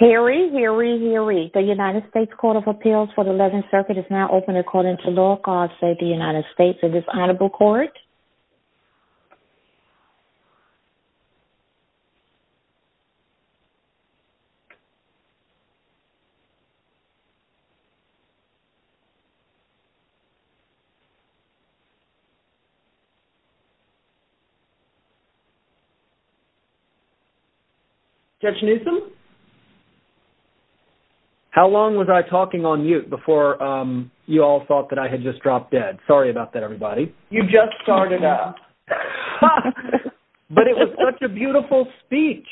Harry, Harry, Harry, the United States Court of Appeals for the 11th Circuit is now open according to law. Call to say the United States is this honorable court? Judge Newsom? How long was I talking on mute before you all thought that I had just dropped dead? Sorry about that, everybody. You just started out. But it was such a beautiful speech.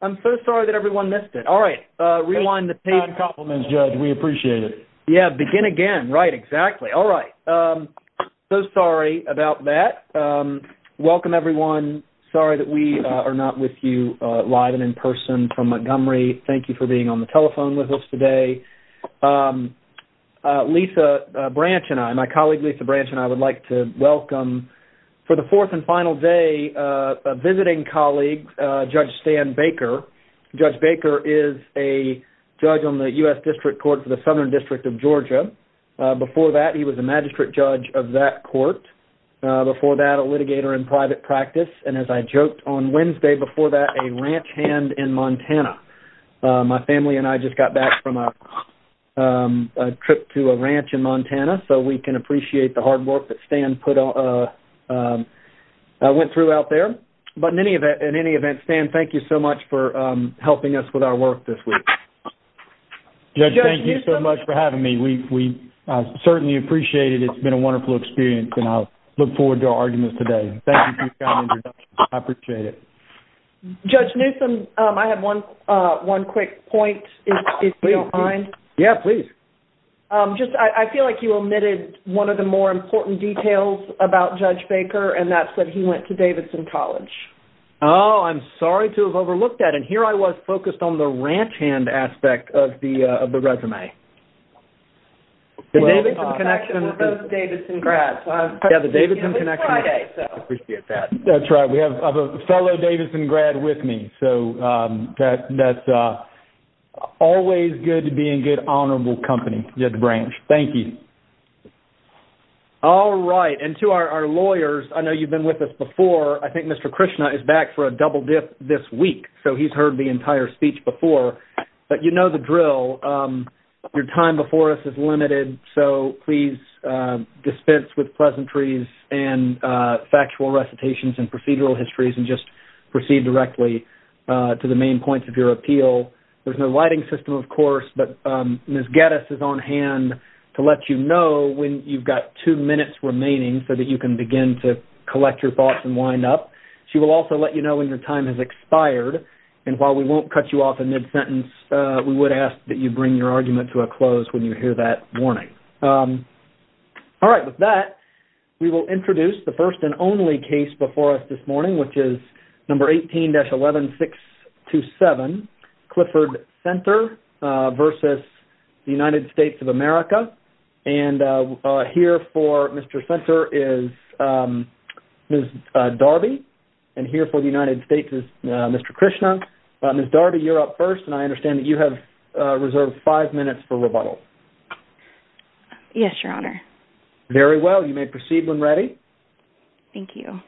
I'm so sorry that everyone missed it. All right. Rewind the page. Compliments, Judge. We appreciate it. Yeah. Begin again. Right. Exactly. All right. So sorry about that. Welcome, everyone. Sorry that we are not with you live and in person from Montgomery. Thank you for being on the telephone with us today. Lisa Branch and I, my colleague Lisa Branch and I would like to welcome for the fourth and final day a visiting colleague, Judge Stan Baker. Judge Baker is a judge on the U.S. District Court for the Southern District of Georgia. Before that, he was a magistrate judge of that court. Before that, a litigator in private practice. And as I joked on Wednesday, before that, a ranch hand in Montana. My family and I just got back from a trip to a ranch in Montana. So we can appreciate the hard work that Stan went through out there. But in any event, Stan, thank you so much for helping us with our work this week. Judge, thank you so much for having me. We certainly appreciate it. It's been a wonderful experience, and I look forward to our arguments today. Thank you for your kind introduction. I appreciate it. Judge Newsom, I have one quick point, if you don't mind. Yeah, please. I feel like you omitted one of the more important details about Judge Baker, and that's that he went to Davidson College. Oh, I'm sorry to have overlooked that. And here I was focused on the ranch hand aspect of the resume. The Davidson connection with those Davidson grads. Yeah, the Davidson connection. I appreciate that. That's right. I have a fellow Davidson grad with me. So that's always good to be in good, honorable company at the branch. Thank you. All right. And to our lawyers, I know you've been with us before. I think Mr. Krishna is back for a double dip this week, so he's heard the entire speech before. But you know the drill. Your time before us is limited. So please dispense with pleasantries and factual recitations and procedural histories and just proceed directly to the main points of your appeal. There's no lighting system, of course, but Ms. Geddes is on hand to let you know when you've got two minutes remaining so that you can begin to collect your thoughts and wind up. She will also let you know when your time has expired. And while we won't cut you off in mid-sentence, we would ask that you bring your argument to a close when you hear that warning. All right. With that, we will introduce the first and only case before us this morning, which is number 18-11627, Clifford Senter versus the United States of America. And here for Mr. Senter is Ms. Darby, and here for the United States is Mr. Krishna. Ms. Darby, you're up first, and I understand that you have reserved five minutes for rebuttal. Yes, Your Honor. Very well. You may proceed when ready. Thank you.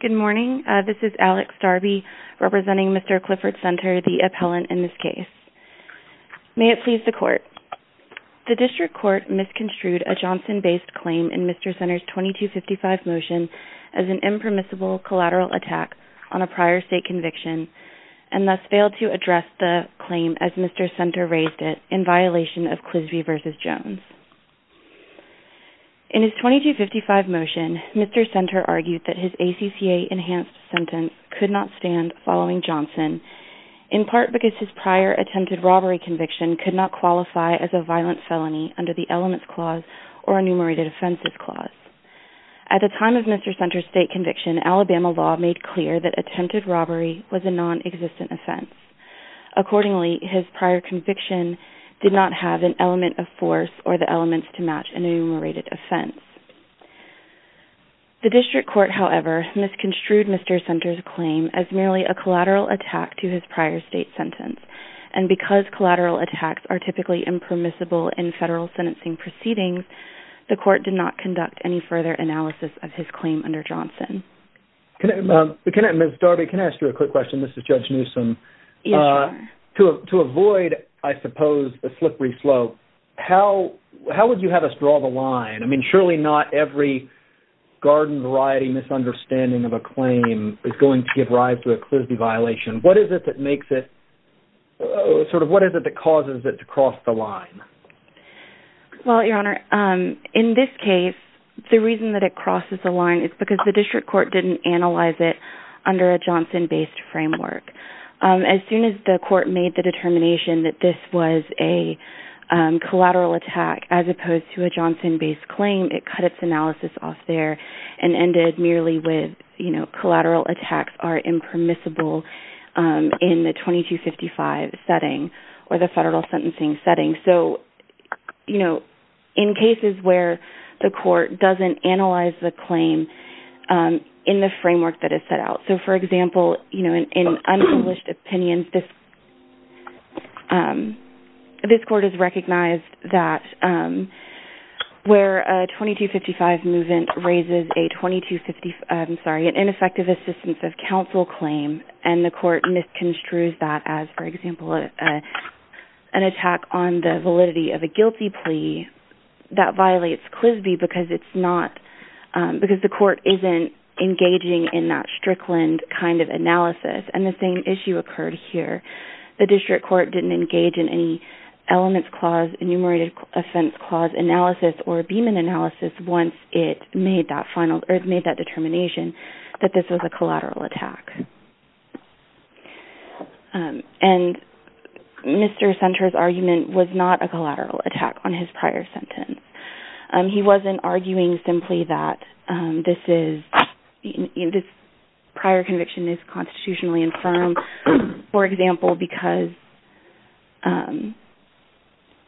Good morning. This is Alex Darby representing Mr. Clifford Senter, the appellant in this case. May it please the Court. The District Court misconstrued a Johnson-based claim in Mr. Senter's 2255 motion as an impermissible collateral attack on a prior state conviction and thus failed to address the claim as Mr. Senter raised it in violation of Clisby v. Jones. In his 2255 motion, Mr. Senter argued that his ACCA-enhanced sentence could not stand following Johnson, in part because his prior attempted robbery conviction could not qualify as a violent felony under the Elements Clause or Enumerated Offenses Clause. At the time of Mr. Senter's state conviction, Alabama law made clear that attempted robbery was a non-existent offense. Accordingly, his prior conviction did not have an element of force or the elements to match an enumerated offense. The District Court, however, misconstrued Mr. Senter's claim as merely a collateral attack to his prior state sentence, and because collateral attacks are typically impermissible in federal sentencing proceedings, the Court did not conduct any further analysis of his claim under Johnson. Ms. Darby, can I ask you a quick question? This is Judge Newsom. To avoid, I suppose, a slippery slope, how would you have us draw the line? I mean, surely not every garden-variety misunderstanding of a claim is going to give rise to a Clisby violation. What is it that causes it to cross the line? Well, Your Honor, in this case, the reason that it crosses the line is because the District Court didn't analyze it under a Johnson-based framework. As soon as the Court made the determination that this was a collateral attack as opposed to a Johnson-based claim, it cut its analysis off there and ended merely with, you know, collateral attacks are impermissible in the 2255 setting or the federal sentencing setting. So, you know, in cases where the Court doesn't analyze the claim in the framework that is set out. So, for example, you know, in unpublished opinions, this Court has recognized that where a 2255 movement raises an ineffective assistance of counsel claim, and the Court misconstrues that as, for example, an attack on the validity of a guilty plea, that violates Clisby because the Court isn't engaging in that Strickland kind of analysis. And the same issue occurred here. The District Court didn't engage in any elements clause, enumerated offense clause analysis, or Beeman analysis once it made that determination that this was a collateral attack. And Mr. Senter's argument was not a collateral attack on his prior sentence. He wasn't arguing simply that this prior conviction is constitutionally infirm. For example, because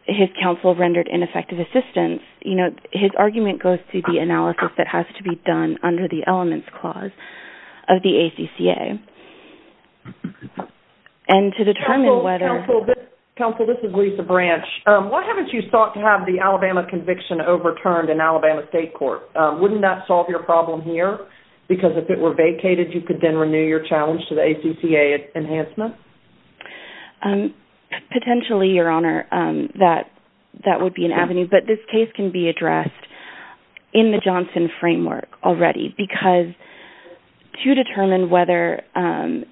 his counsel rendered ineffective assistance, you know, his argument goes to the analysis that has to be done under the elements clause of the ACCA. And to determine whether... Counsel, this is Lisa Branch. Why haven't you sought to have the Alabama conviction overturned in Alabama State Court? Wouldn't that solve your problem here? Because if it were vacated, you could then renew your challenge to the ACCA enhancement? Potentially, Your Honor, that would be an avenue. But this case can be addressed in the Johnson framework already because to determine whether a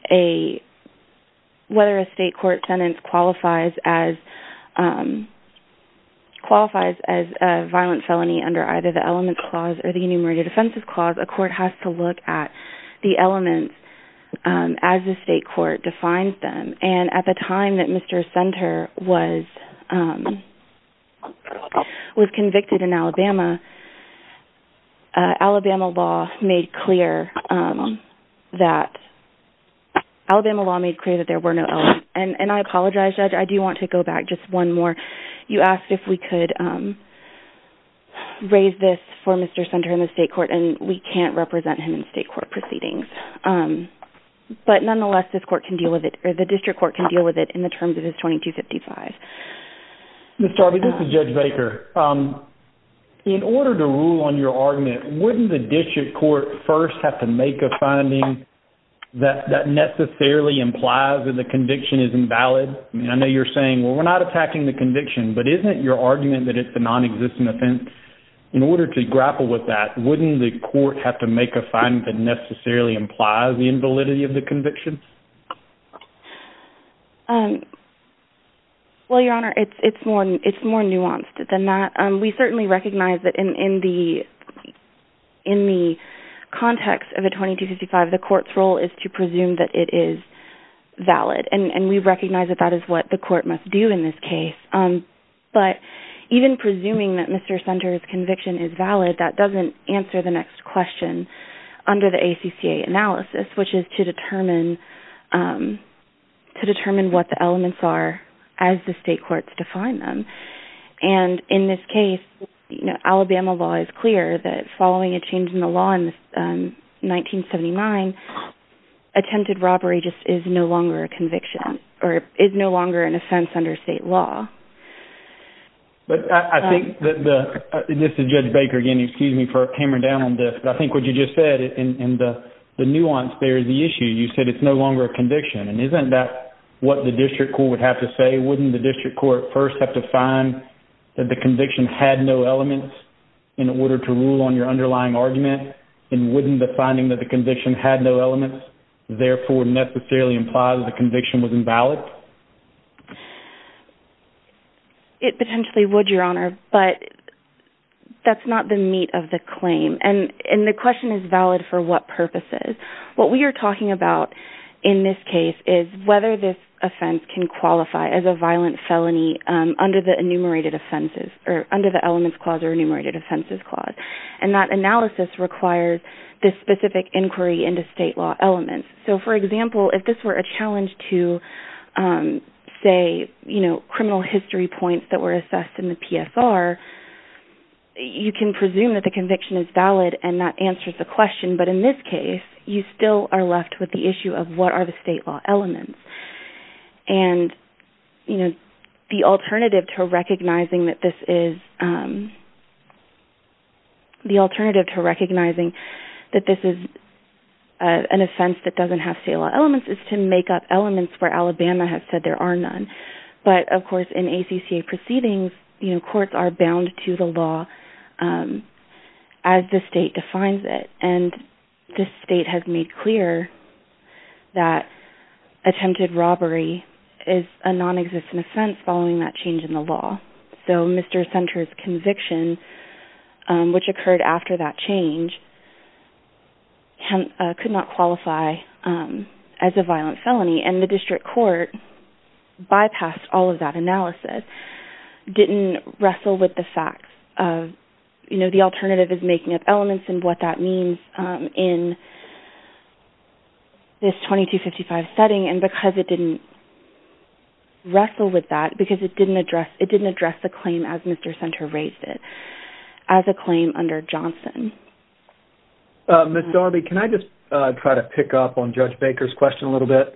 state court sentence qualifies as a violent felony under either the elements clause or the enumerated offenses clause, a court has to look at the elements as the state court defines them. And at the time that Mr. Senter was convicted in Alabama, Alabama law made clear that there were no elements. And I apologize, Judge. I do want to go back just one more. You asked if we could raise this for Mr. Senter in the state court, and we can't represent him in state court proceedings. But nonetheless, the district court can deal with it in the terms of his 2255. Ms. Darby, this is Judge Baker. In order to rule on your argument, wouldn't the district court first have to make a finding that necessarily implies that the conviction is invalid? I know you're saying, well, we're not attacking the conviction, but isn't it your argument that it's a nonexistent offense? In order to grapple with that, wouldn't the court have to make a finding that necessarily implies the invalidity of the conviction? Well, Your Honor, it's more nuanced than that. We certainly recognize that in the context of the 2255, the court's role is to presume that it is valid. And we recognize that that is what the court must do in this case. But even presuming that Mr. Senter's conviction is valid, that doesn't answer the next question under the ACCA analysis, which is to determine what the elements are as the state courts define them. And in this case, Alabama law is clear that following a change in the law in 1979, attempted robbery just is no longer a conviction, or is no longer an offense under state law. But I think that the, this is Judge Baker again, excuse me for hammering down on this, but I think what you just said, and the nuance there is the issue, you said it's no longer a conviction. And isn't that what the district court would have to say? Wouldn't the district court first have to find that the conviction had no elements in order to rule on your underlying argument? And wouldn't the finding that the conviction had no elements therefore necessarily imply that the conviction was invalid? It potentially would, Your Honor, but that's not the meat of the claim. And the question is valid for what purposes. What we are talking about in this case is whether this offense can qualify as a violent felony under the enumerated offenses, or under the elements clause or enumerated offenses clause. And that analysis requires this specific inquiry into state law elements. So, for example, if this were a challenge to, say, criminal history points that were assessed in the PSR, you can presume that the conviction is valid and that answers the question. But in this case, you still are left with the issue of what are the state law elements. And the alternative to recognizing that this is an offense that doesn't have state law elements is to make up elements where Alabama has said there are none. But, of course, in ACCA proceedings, courts are bound to the law as the state defines it. And this state has made clear that attempted robbery is a nonexistent offense following that change in the law. So Mr. Senter's conviction, which occurred after that change, could not qualify as a violent felony. And the district court bypassed all of that analysis, didn't wrestle with the fact of, you know, the alternative is making up elements and what that means in this 2255 setting. And because it didn't wrestle with that, because it didn't address the claim as Mr. Senter raised it, as a claim under Johnson. Miss Darby, can I just try to pick up on Judge Baker's question a little bit?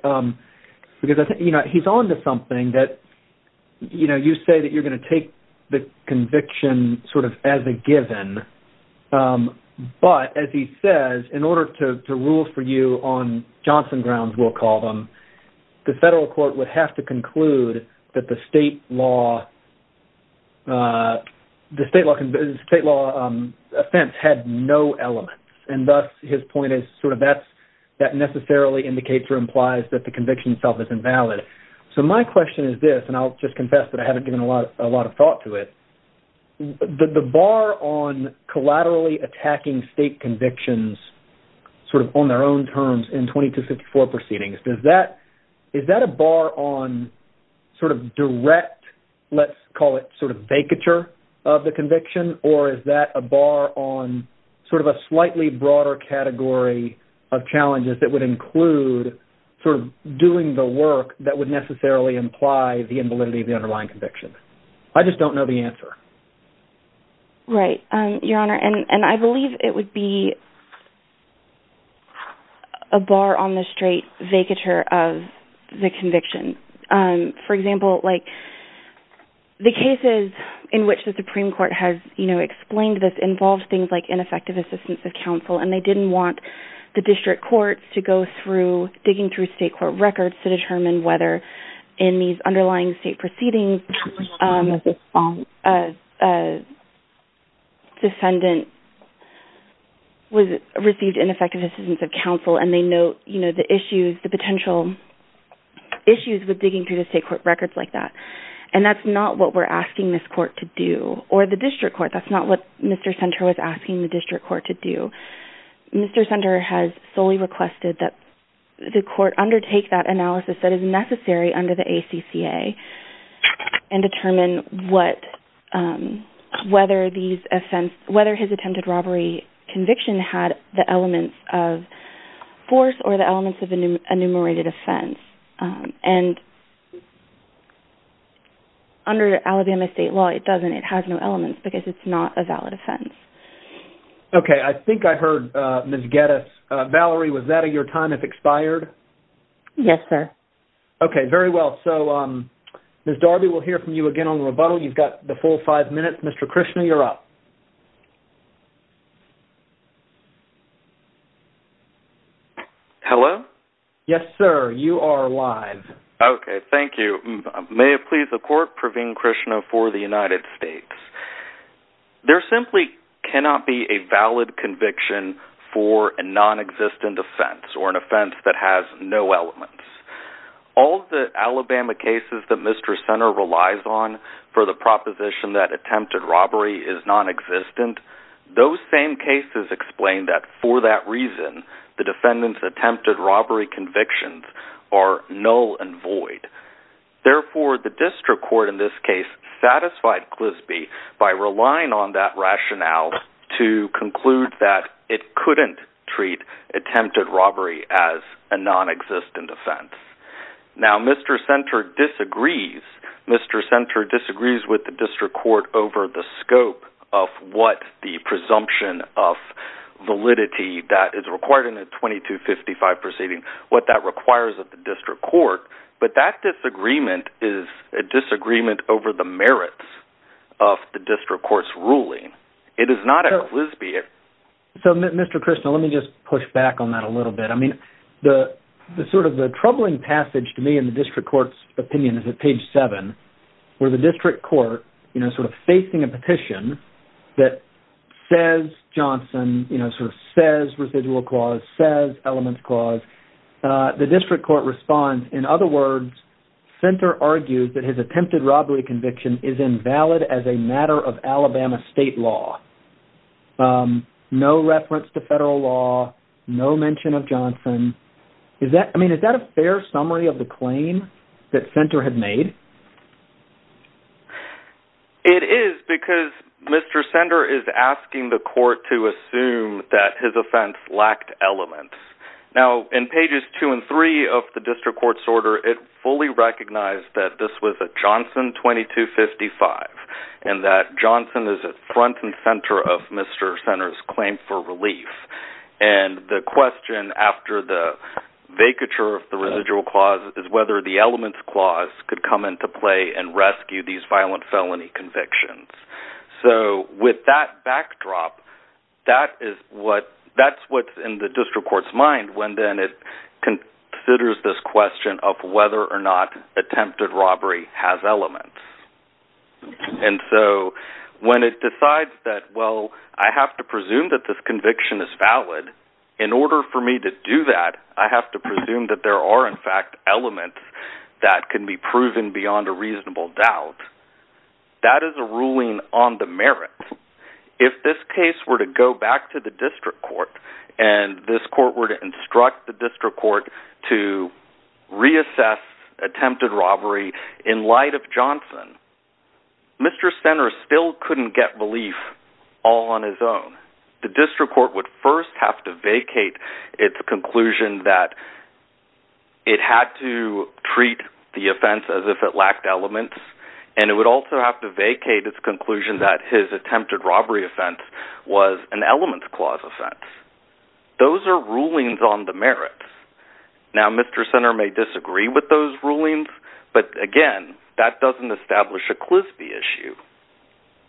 Because, you know, he's on to something that, you know, you say that you're going to take the conviction sort of as a given. But, as he says, in order to rule for you on Johnson grounds, we'll call them, the federal court would have to conclude that the state law offense had no elements. And thus, his point is sort of that necessarily indicates or implies that the conviction itself is invalid. So my question is this, and I'll just confess that I haven't given a lot of thought to it. The bar on collaterally attacking state convictions sort of on their own terms in 2254 proceedings, is that a bar on sort of direct, let's call it sort of vacature of the conviction? Or is that a bar on sort of a slightly broader category of challenges that would include sort of doing the work that would necessarily imply the invalidity of the underlying conviction? I just don't know the answer. Right. Your Honor, and I believe it would be a bar on the straight vacature of the conviction. For example, like, the cases in which the Supreme Court has, you know, explained this involves things like ineffective assistance of counsel. And they didn't want the district courts to go through digging through state court records to determine whether in these underlying state proceedings a defendant received ineffective assistance of counsel. And they know, you know, the issues, the potential issues with digging through the state court records like that. And that's not what we're asking this court to do, or the district court. That's not what Mr. Senter was asking the district court to do. Mr. Senter has solely requested that the court undertake that analysis that is necessary under the ACCA and determine whether his attempted robbery conviction had the elements of force or the elements of enumerated offense. And under Alabama state law, it doesn't. It has no elements because it's not a valid offense. Okay. I think I heard Ms. Geddes. Valerie, was that your time has expired? Yes, sir. Okay. Very well. So, Ms. Darby, we'll hear from you again on rebuttal. You've got the full five minutes. Mr. Krishna, you're up. Hello? Yes, sir. You are live. Okay. Thank you. May it please the court, Praveen Krishna for the United States. There simply cannot be a valid conviction for a non-existent offense or an offense that has no elements. All of the Alabama cases that Mr. Senter relies on for the proposition that attempted robbery is non-existent, those same cases explain that for that reason, the defendant's attempted robbery convictions are null and void. Therefore, the district court in this case satisfied Clisby by relying on that rationale to conclude that it couldn't treat attempted robbery as a non-existent offense. Now, Mr. Senter disagrees. Mr. Senter disagrees with the district court over the scope of what the presumption of validity that is required in a 2255 proceeding, what that requires of the district court. But that disagreement is a disagreement over the merits of the district court's ruling. It is not at Clisby. So, Mr. Krishna, let me just push back on that a little bit. I mean, the sort of the troubling passage to me in the district court's opinion is at page 7, where the district court, you know, sort of facing a petition that says Johnson, you know, sort of says residual clause, says elements clause. And the district court responds, in other words, Senter argues that his attempted robbery conviction is invalid as a matter of Alabama state law. No reference to federal law, no mention of Johnson. I mean, is that a fair summary of the claim that Senter had made? It is because Mr. Senter is asking the court to assume that his offense lacked elements. Now, in pages 2 and 3 of the district court's order, it fully recognized that this was a Johnson 2255 and that Johnson is at front and center of Mr. Senter's claim for relief. And the question after the vacature of the residual clause is whether the elements clause could come into play and rescue these violent felony convictions. So, with that backdrop, that's what's in the district court's mind when then it considers this question of whether or not attempted robbery has elements. And so, when it decides that, well, I have to presume that this conviction is valid, in order for me to do that, I have to presume that there are, in fact, elements that can be proven beyond a reasonable doubt. That is a ruling on the merit. If this case were to go back to the district court and this court were to instruct the district court to reassess attempted robbery in light of Johnson, Mr. Senter still couldn't get relief all on his own. The district court would first have to vacate its conclusion that it had to treat the offense as if it lacked elements, and it would also have to vacate its conclusion that his attempted robbery offense was an elements clause offense. Those are rulings on the merit. Now, Mr. Senter may disagree with those rulings, but again, that doesn't establish a Clisby issue.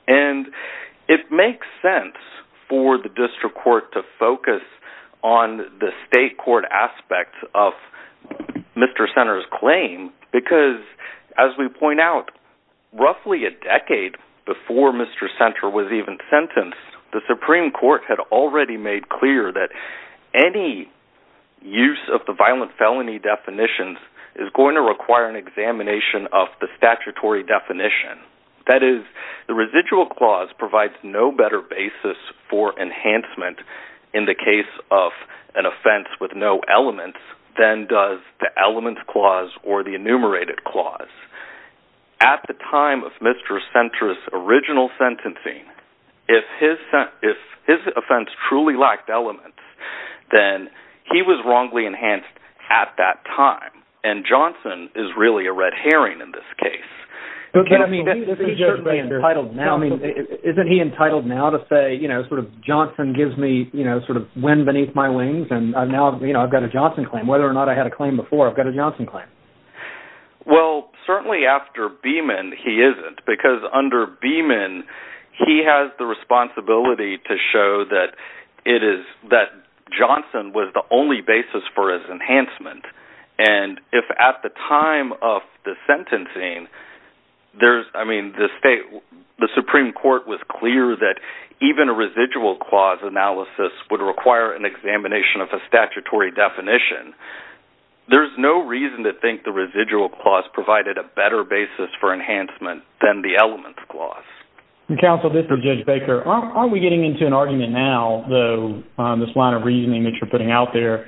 And it makes sense for the district court to focus on the state court aspect of Mr. Senter's claim because, as we point out, roughly a decade before Mr. Senter was even sentenced, the Supreme Court had already made clear that any use of the violent felony definitions is going to require an examination of the statutory definition. The residual clause provides no better basis for enhancement in the case of an offense with no elements than does the elements clause or the enumerated clause. At the time of Mr. Senter's original sentencing, if his offense truly lacked elements, then he was wrongly enhanced at that time, and Johnson is really a red herring in this case. Okay, I mean, isn't he entitled now to say, you know, sort of, Johnson gives me, you know, sort of, wind beneath my wings, and now, you know, I've got a Johnson claim. Whether or not I had a claim before, I've got a Johnson claim. Well, certainly after Beeman, he isn't, because under Beeman, he has the responsibility to show that Johnson was the only basis for his enhancement. And if at the time of the sentencing, there's, I mean, the Supreme Court was clear that even a residual clause analysis would require an examination of a statutory definition. There's no reason to think the residual clause provided a better basis for enhancement than the elements clause. Counsel, this is Judge Baker. Aren't we getting into an argument now, though, on this line of reasoning that you're putting out there,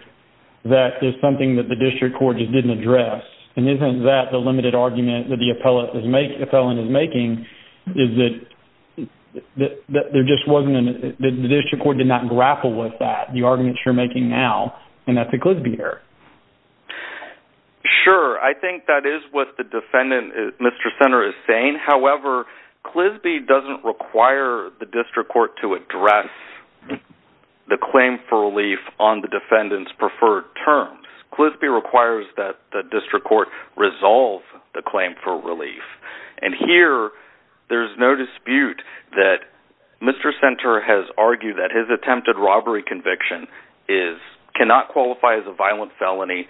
that there's something that the district court just didn't address? And isn't that the limited argument that the appellant is making, is that there just wasn't, the district court did not grapple with that, the argument you're making now, and that's a Clisby error. Sure, I think that is what the defendant, Mr. Senter, is saying. However, Clisby doesn't require the district court to address the claim for relief on the defendant's preferred terms. Clisby requires that the district court resolve the claim for relief. And here, there's no dispute that Mr. Senter has argued that his attempted robbery conviction cannot qualify as a violent felony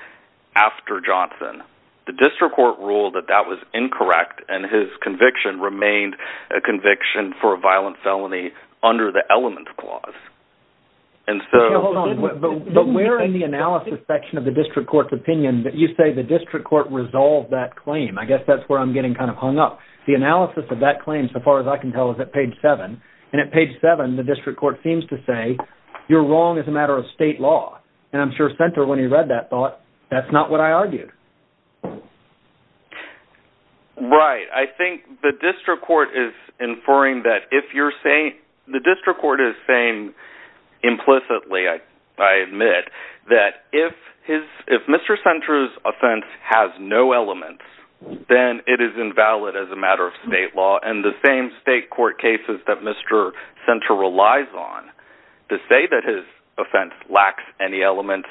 after Johnson. The district court ruled that that was incorrect, and his conviction remained a conviction for a violent felony under the elements clause. But we're in the analysis section of the district court's opinion that you say the district court resolved that claim. I guess that's where I'm getting kind of hung up. The analysis of that claim, so far as I can tell, is at page 7. And at page 7, the district court seems to say, you're wrong as a matter of state law. And I'm sure Senter, when he read that, thought, that's not what I argued. Right. I think the district court is inferring that if you're saying, the district court is saying implicitly, I admit, that if Mr. Senter's offense has no elements, then it is invalid as a matter of state law. And the same state court cases that Mr. Senter relies on, to say that his offense lacks any elements,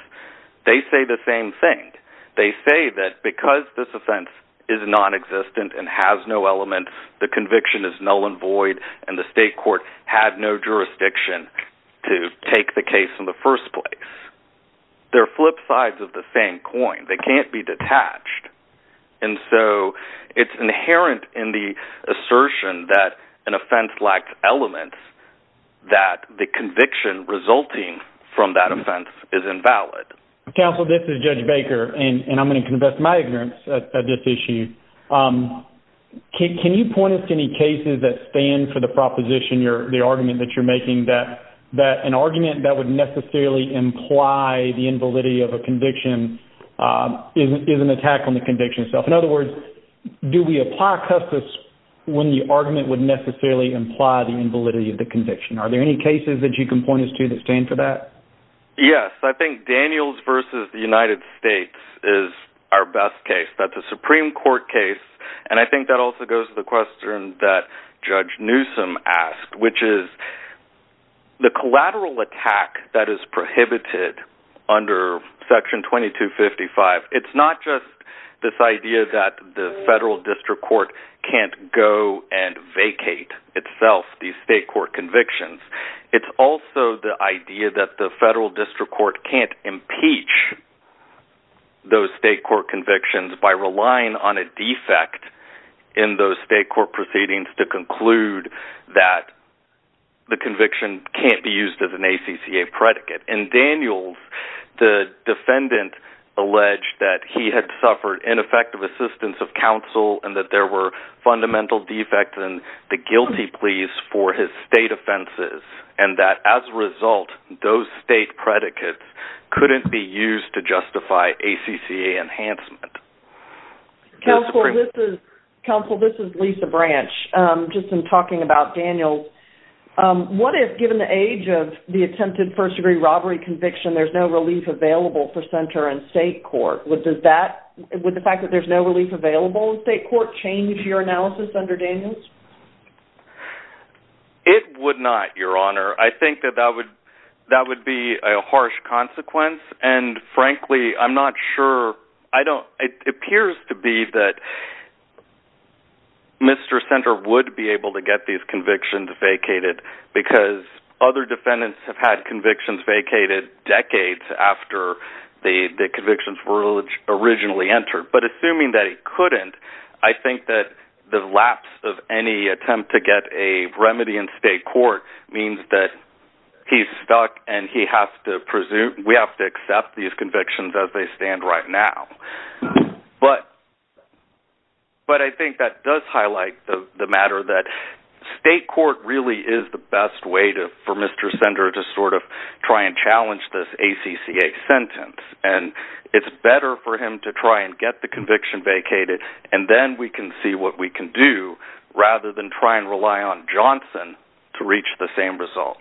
they say the same thing. They say that because this offense is nonexistent and has no elements, the conviction is null and void, and the state court had no jurisdiction to take the case in the first place. They're flip sides of the same coin. They can't be detached. And so, it's inherent in the assertion that an offense lacks elements, that the conviction resulting from that offense is invalid. Counsel, this is Judge Baker, and I'm going to confess my ignorance at this issue. Can you point us to any cases that stand for the proposition, the argument that you're making, that an argument that would necessarily imply the invalidity of a conviction is an attack on the conviction itself? In other words, do we apply customs when the argument would necessarily imply the invalidity of the conviction? Are there any cases that you can point us to that stand for that? Yes. I think Daniels v. The United States is our best case. That's a Supreme Court case. And I think that also goes to the question that Judge Newsom asked, which is, the collateral attack that is prohibited under Section 2255, it's not just this idea that the federal district court can't go and vacate itself these state court convictions. It's also the idea that the federal district court can't impeach those state court convictions by relying on a defect in those state court proceedings to conclude that the conviction can't be used as an ACCA predicate. And Daniels, the defendant, alleged that he had suffered ineffective assistance of counsel and that there were fundamental defects in the guilty pleas for his state offenses, and that as a result, those state predicates couldn't be used to justify ACCA enhancement. Counsel, this is Lisa Branch. Just in talking about Daniels, what if, given the age of the attempted first-degree robbery conviction, there's no relief available for Sunter and state court? Would the fact that there's no relief available in state court change your analysis under Daniels? It would not, Your Honor. I think that that would be a harsh consequence, and frankly, I'm not sure. It appears to be that Mr. Sunter would be able to get these convictions vacated because other defendants have had convictions vacated decades after the convictions were originally entered. But assuming that he couldn't, I think that the lapse of any attempt to get a remedy in state court means that he's stuck and we have to accept these convictions as they stand right now. But I think that does highlight the matter that state court really is the best way for Mr. Sunter to sort of try and challenge this ACCA sentence, and it's better for him to try and get the conviction vacated, and then we can see what we can do rather than try and rely on Johnson to reach the same result.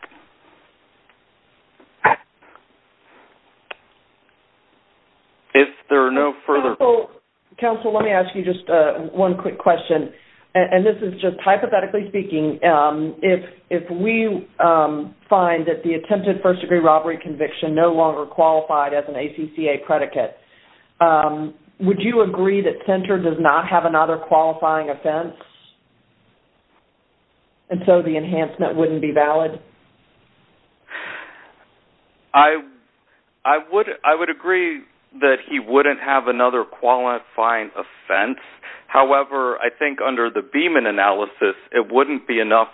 If there are no further... Counsel, let me ask you just one quick question, and this is just hypothetically speaking. If we find that the attempted first-degree robbery conviction no longer qualified as an ACCA predicate, would you agree that Sunter does not have another qualifying offense, and so the enhancement wouldn't be valid? I would agree that he wouldn't have another qualifying offense. However, I think under the Beeman analysis, it wouldn't be enough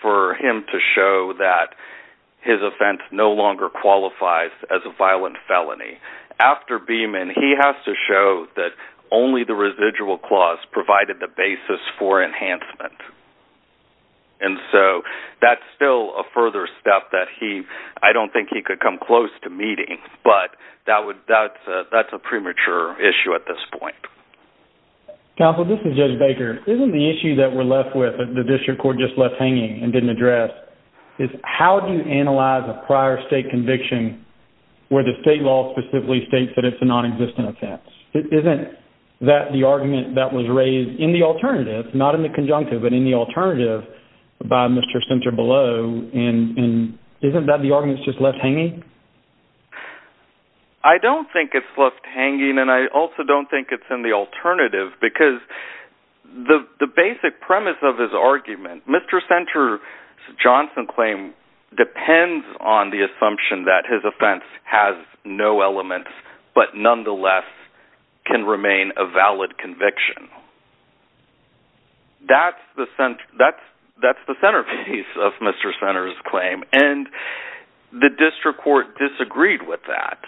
for him to show that his offense no longer qualifies as a violent felony. After Beeman, he has to show that only the residual clause provided the basis for enhancement. And so that's still a further step that he... I don't think he could come close to meeting, but that's a premature issue at this point. Counsel, this is Judge Baker. Isn't the issue that we're left with, that the district court just left hanging and didn't address, is how do you analyze a prior state conviction where the state law specifically states that it's a nonexistent offense? Isn't that the argument that was raised in the alternative, not in the conjunctive, but in the alternative by Mr. Sunter below, and isn't that the argument that's just left hanging? I don't think it's left hanging, and I also don't think it's in the alternative, because the basic premise of his argument, Mr. Sunter's Johnson claim depends on the assumption that his offense has no elements, but nonetheless can remain a valid conviction. That's the centerpiece of Mr. Sunter's claim, and the district court disagreed with that.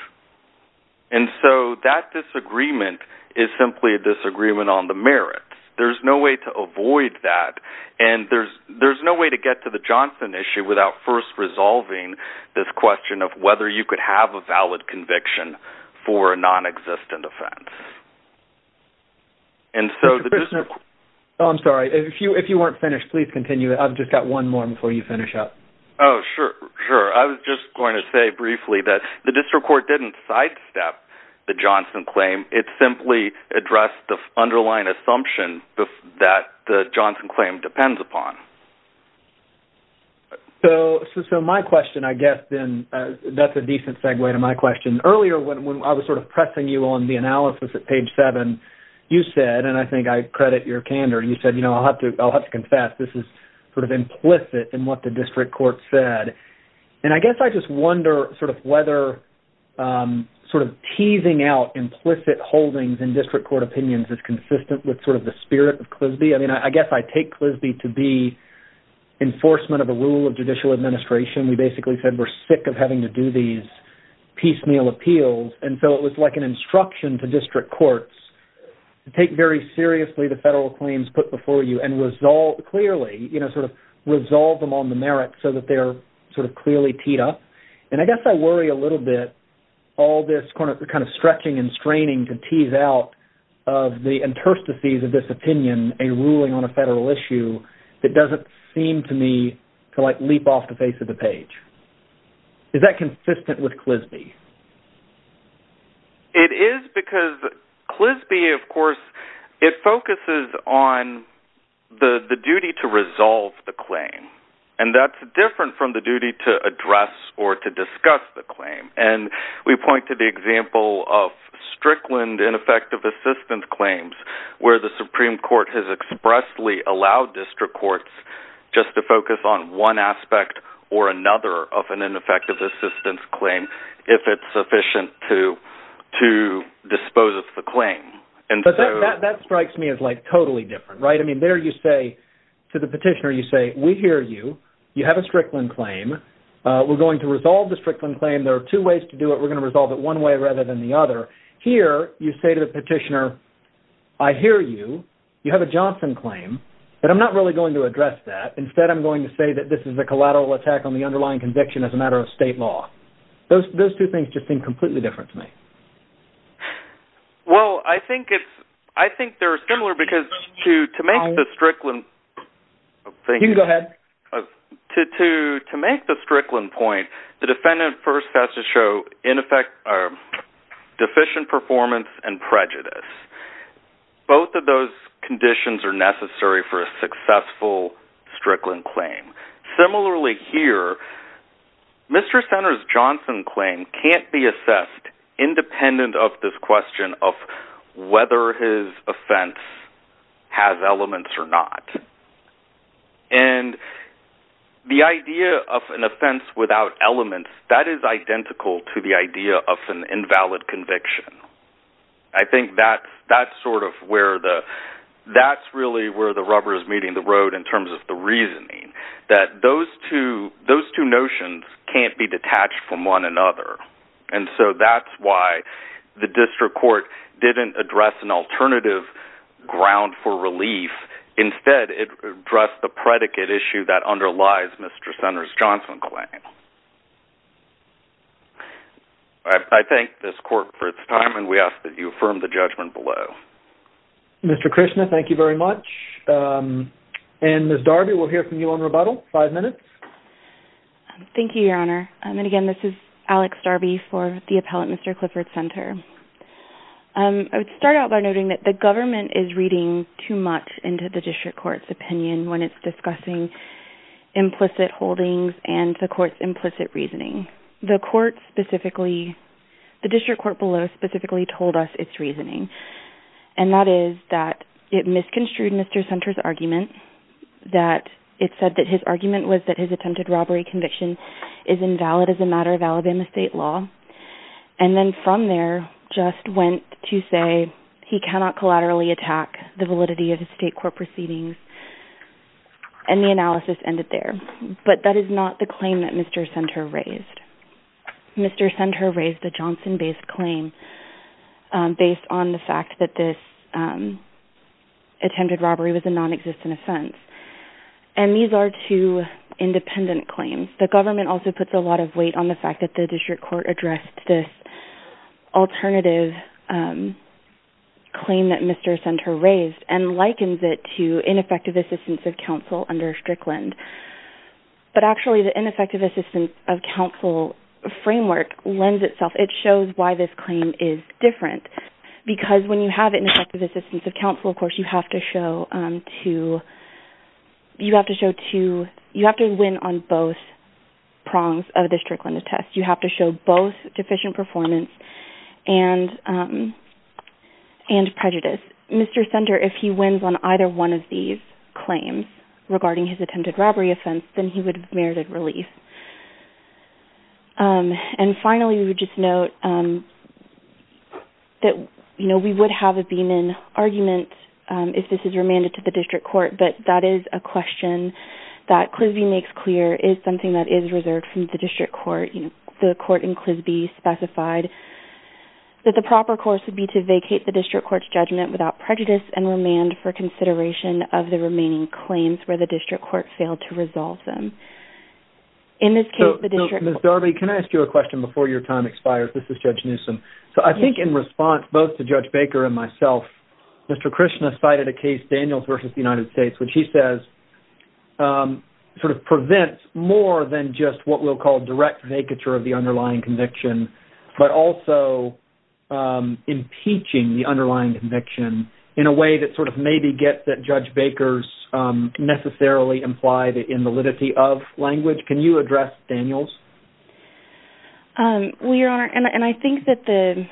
And so that disagreement is simply a disagreement on the merits. There's no way to avoid that, and there's no way to get to the Johnson issue without first resolving this question of whether you could have a valid conviction for a nonexistent offense. I'm sorry, if you weren't finished, please continue. I've just got one more before you finish up. Oh, sure. I was just going to say briefly that the district court didn't sidestep the Johnson claim. It simply addressed the underlying assumption that the Johnson claim depends upon. So my question, I guess, then, that's a decent segue to my question. Earlier, when I was sort of pressing you on the analysis at page seven, you said, and I think I credit your candor, you said, you know, I'll have to confess, this is sort of implicit in what the district court said. And I guess I just wonder sort of whether sort of teasing out implicit holdings in district court opinions is consistent with sort of the spirit of Clisby. I mean, I guess I take Clisby to be enforcement of a rule of judicial administration. We basically said we're sick of having to do these piecemeal appeals. And so it was like an instruction to district courts to take very seriously the federal claims put before you and resolve clearly, you know, sort of resolve them on the merits so that they're sort of clearly teed up. And I guess I worry a little bit, all this kind of stretching and straining to tease out of the interstices of this opinion, a ruling on a federal issue that doesn't seem to me to like leap off the face of the page. Is that consistent with Clisby? It is because Clisby, of course, it focuses on the duty to resolve the claim. And that's different from the duty to address or to discuss the claim. And we point to the example of Strickland ineffective assistance claims where the Supreme Court has expressly allowed district courts just to focus on one aspect or another of an ineffective assistance claim if it's sufficient to dispose of the claim. But that strikes me as like totally different, right? I mean, there you say to the petitioner, you say, we hear you. You have a Strickland claim. We're going to resolve the Strickland claim. There are two ways to do it. We're going to resolve it one way rather than the other. Here, you say to the petitioner, I hear you. You have a Johnson claim. But I'm not really going to address that. Instead, I'm going to say that this is a collateral attack on the underlying conviction as a matter of state law. Those two things just seem completely different to me. Well, I think they're similar because to make the Strickland thing... You can go ahead. To make the Strickland point, the defendant first has to show deficient performance and prejudice. Both of those conditions are necessary for a successful Strickland claim. Similarly here, Mr. Senator's Johnson claim can't be assessed independent of this question of whether his offense has elements or not. And the idea of an offense without elements, that is identical to the idea of an invalid conviction. I think that's really where the rubber is meeting the road in terms of the reasoning, that those two notions can't be detached from one another. And so that's why the district court didn't address an alternative ground for relief. Instead, it addressed the predicate issue that underlies Mr. Senator's Johnson claim. I thank this court for its time, and we ask that you affirm the judgment below. Mr. Krishna, thank you very much. And Ms. Darby, we'll hear from you on rebuttal. Five minutes. Thank you, Your Honor. And again, this is Alex Darby for the appellate Mr. Clifford Center. I would start out by noting that the government is reading too much into the district court's opinion when it's discussing implicit holdings and the court's implicit reasoning. The district court below specifically told us its reasoning, and that is that it misconstrued Mr. Center's argument, that it said that his argument was that his attempted robbery conviction is invalid as a matter of Alabama state law. And then from there, just went to say he cannot collaterally attack the validity of his state court proceedings. And the analysis ended there. But that is not the claim that Mr. Center raised. Mr. Center raised a Johnson-based claim based on the fact that this attempted robbery was a non-existent offense. And these are two independent claims. The government also puts a lot of weight on the fact that the district court addressed this alternative claim that Mr. Center raised and likens it to ineffective assistance of counsel under Strickland. But actually, the ineffective assistance of counsel framework lends itself. It shows why this claim is different. Because when you have ineffective assistance of counsel, of course, you have to win on both prongs of the Strickland test. You have to show both deficient performance and prejudice. Mr. Center, if he wins on either one of these claims regarding his attempted robbery offense, then he would have merited relief. And finally, we would just note that we would have a beam-in argument if this is remanded to the district court. But that is a question that CLSBI makes clear is something that is reserved from the district court. The court in CLSBI specified that the proper course would be to vacate the district court's judgment without prejudice and remand for consideration of the remaining claims where the district court failed to resolve them. In this case, the district court... Ms. Darby, can I ask you a question before your time expires? This is Judge Newsom. So I think in response both to Judge Baker and myself, Mr. Krishna cited a case, Daniels v. United States, which he says sort of prevents more than just what we'll call direct vacature of the underlying conviction, but also impeaching the underlying conviction in a way that sort of maybe gets that Judge Baker's necessarily implied invalidity of language. Can you address Daniels? Well, Your Honor, and I think that the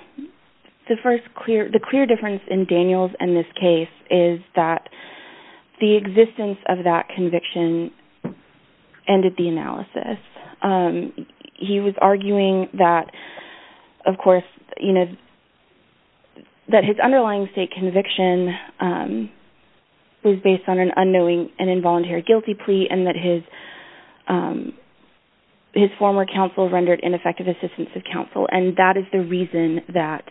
clear difference in Daniels and this case is that the existence of that conviction ended the analysis. He was arguing that, of course, that his underlying state conviction was based on an unknowing and involuntary guilty plea and that his former counsel rendered ineffective assistance of counsel, and that is the reason that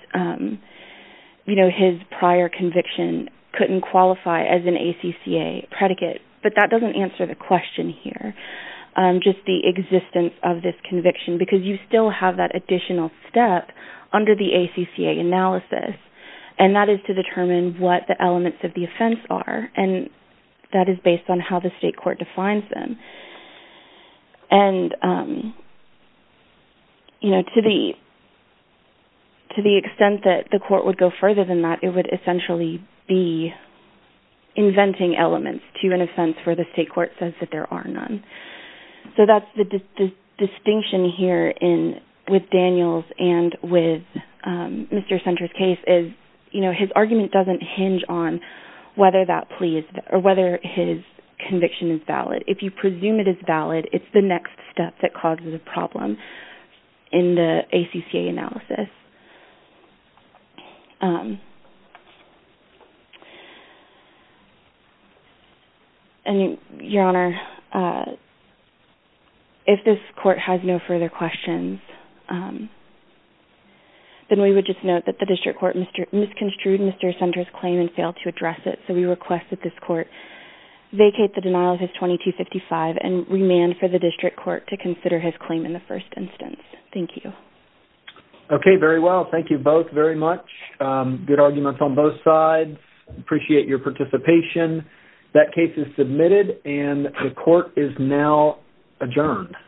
his prior conviction couldn't qualify as an ACCA predicate. But that doesn't answer the question here, just the existence of this conviction, because you still have that additional step under the ACCA analysis, and that is to determine what the elements of the offense are, and that is based on how the state court defines them. And to the extent that the court would go further than that, it would essentially be inventing elements to an offense where the state court says that there are none. So that's the distinction here with Daniels and with Mr. Senter's case, is his argument doesn't hinge on whether his conviction is valid. If you presume it is valid, it's the next step that causes a problem in the ACCA analysis. Your Honor, if this court has no further questions, then we would just note that the district court misconstrued Mr. Senter's claim and failed to address it, so we request that this court vacate the denial of his 2255 and remand for the district court to consider his claim in the first instance. Thank you. Okay, very well. Thank you both very much. Good arguments on both sides. Appreciate your participation. That case is submitted, and the court is now adjourned.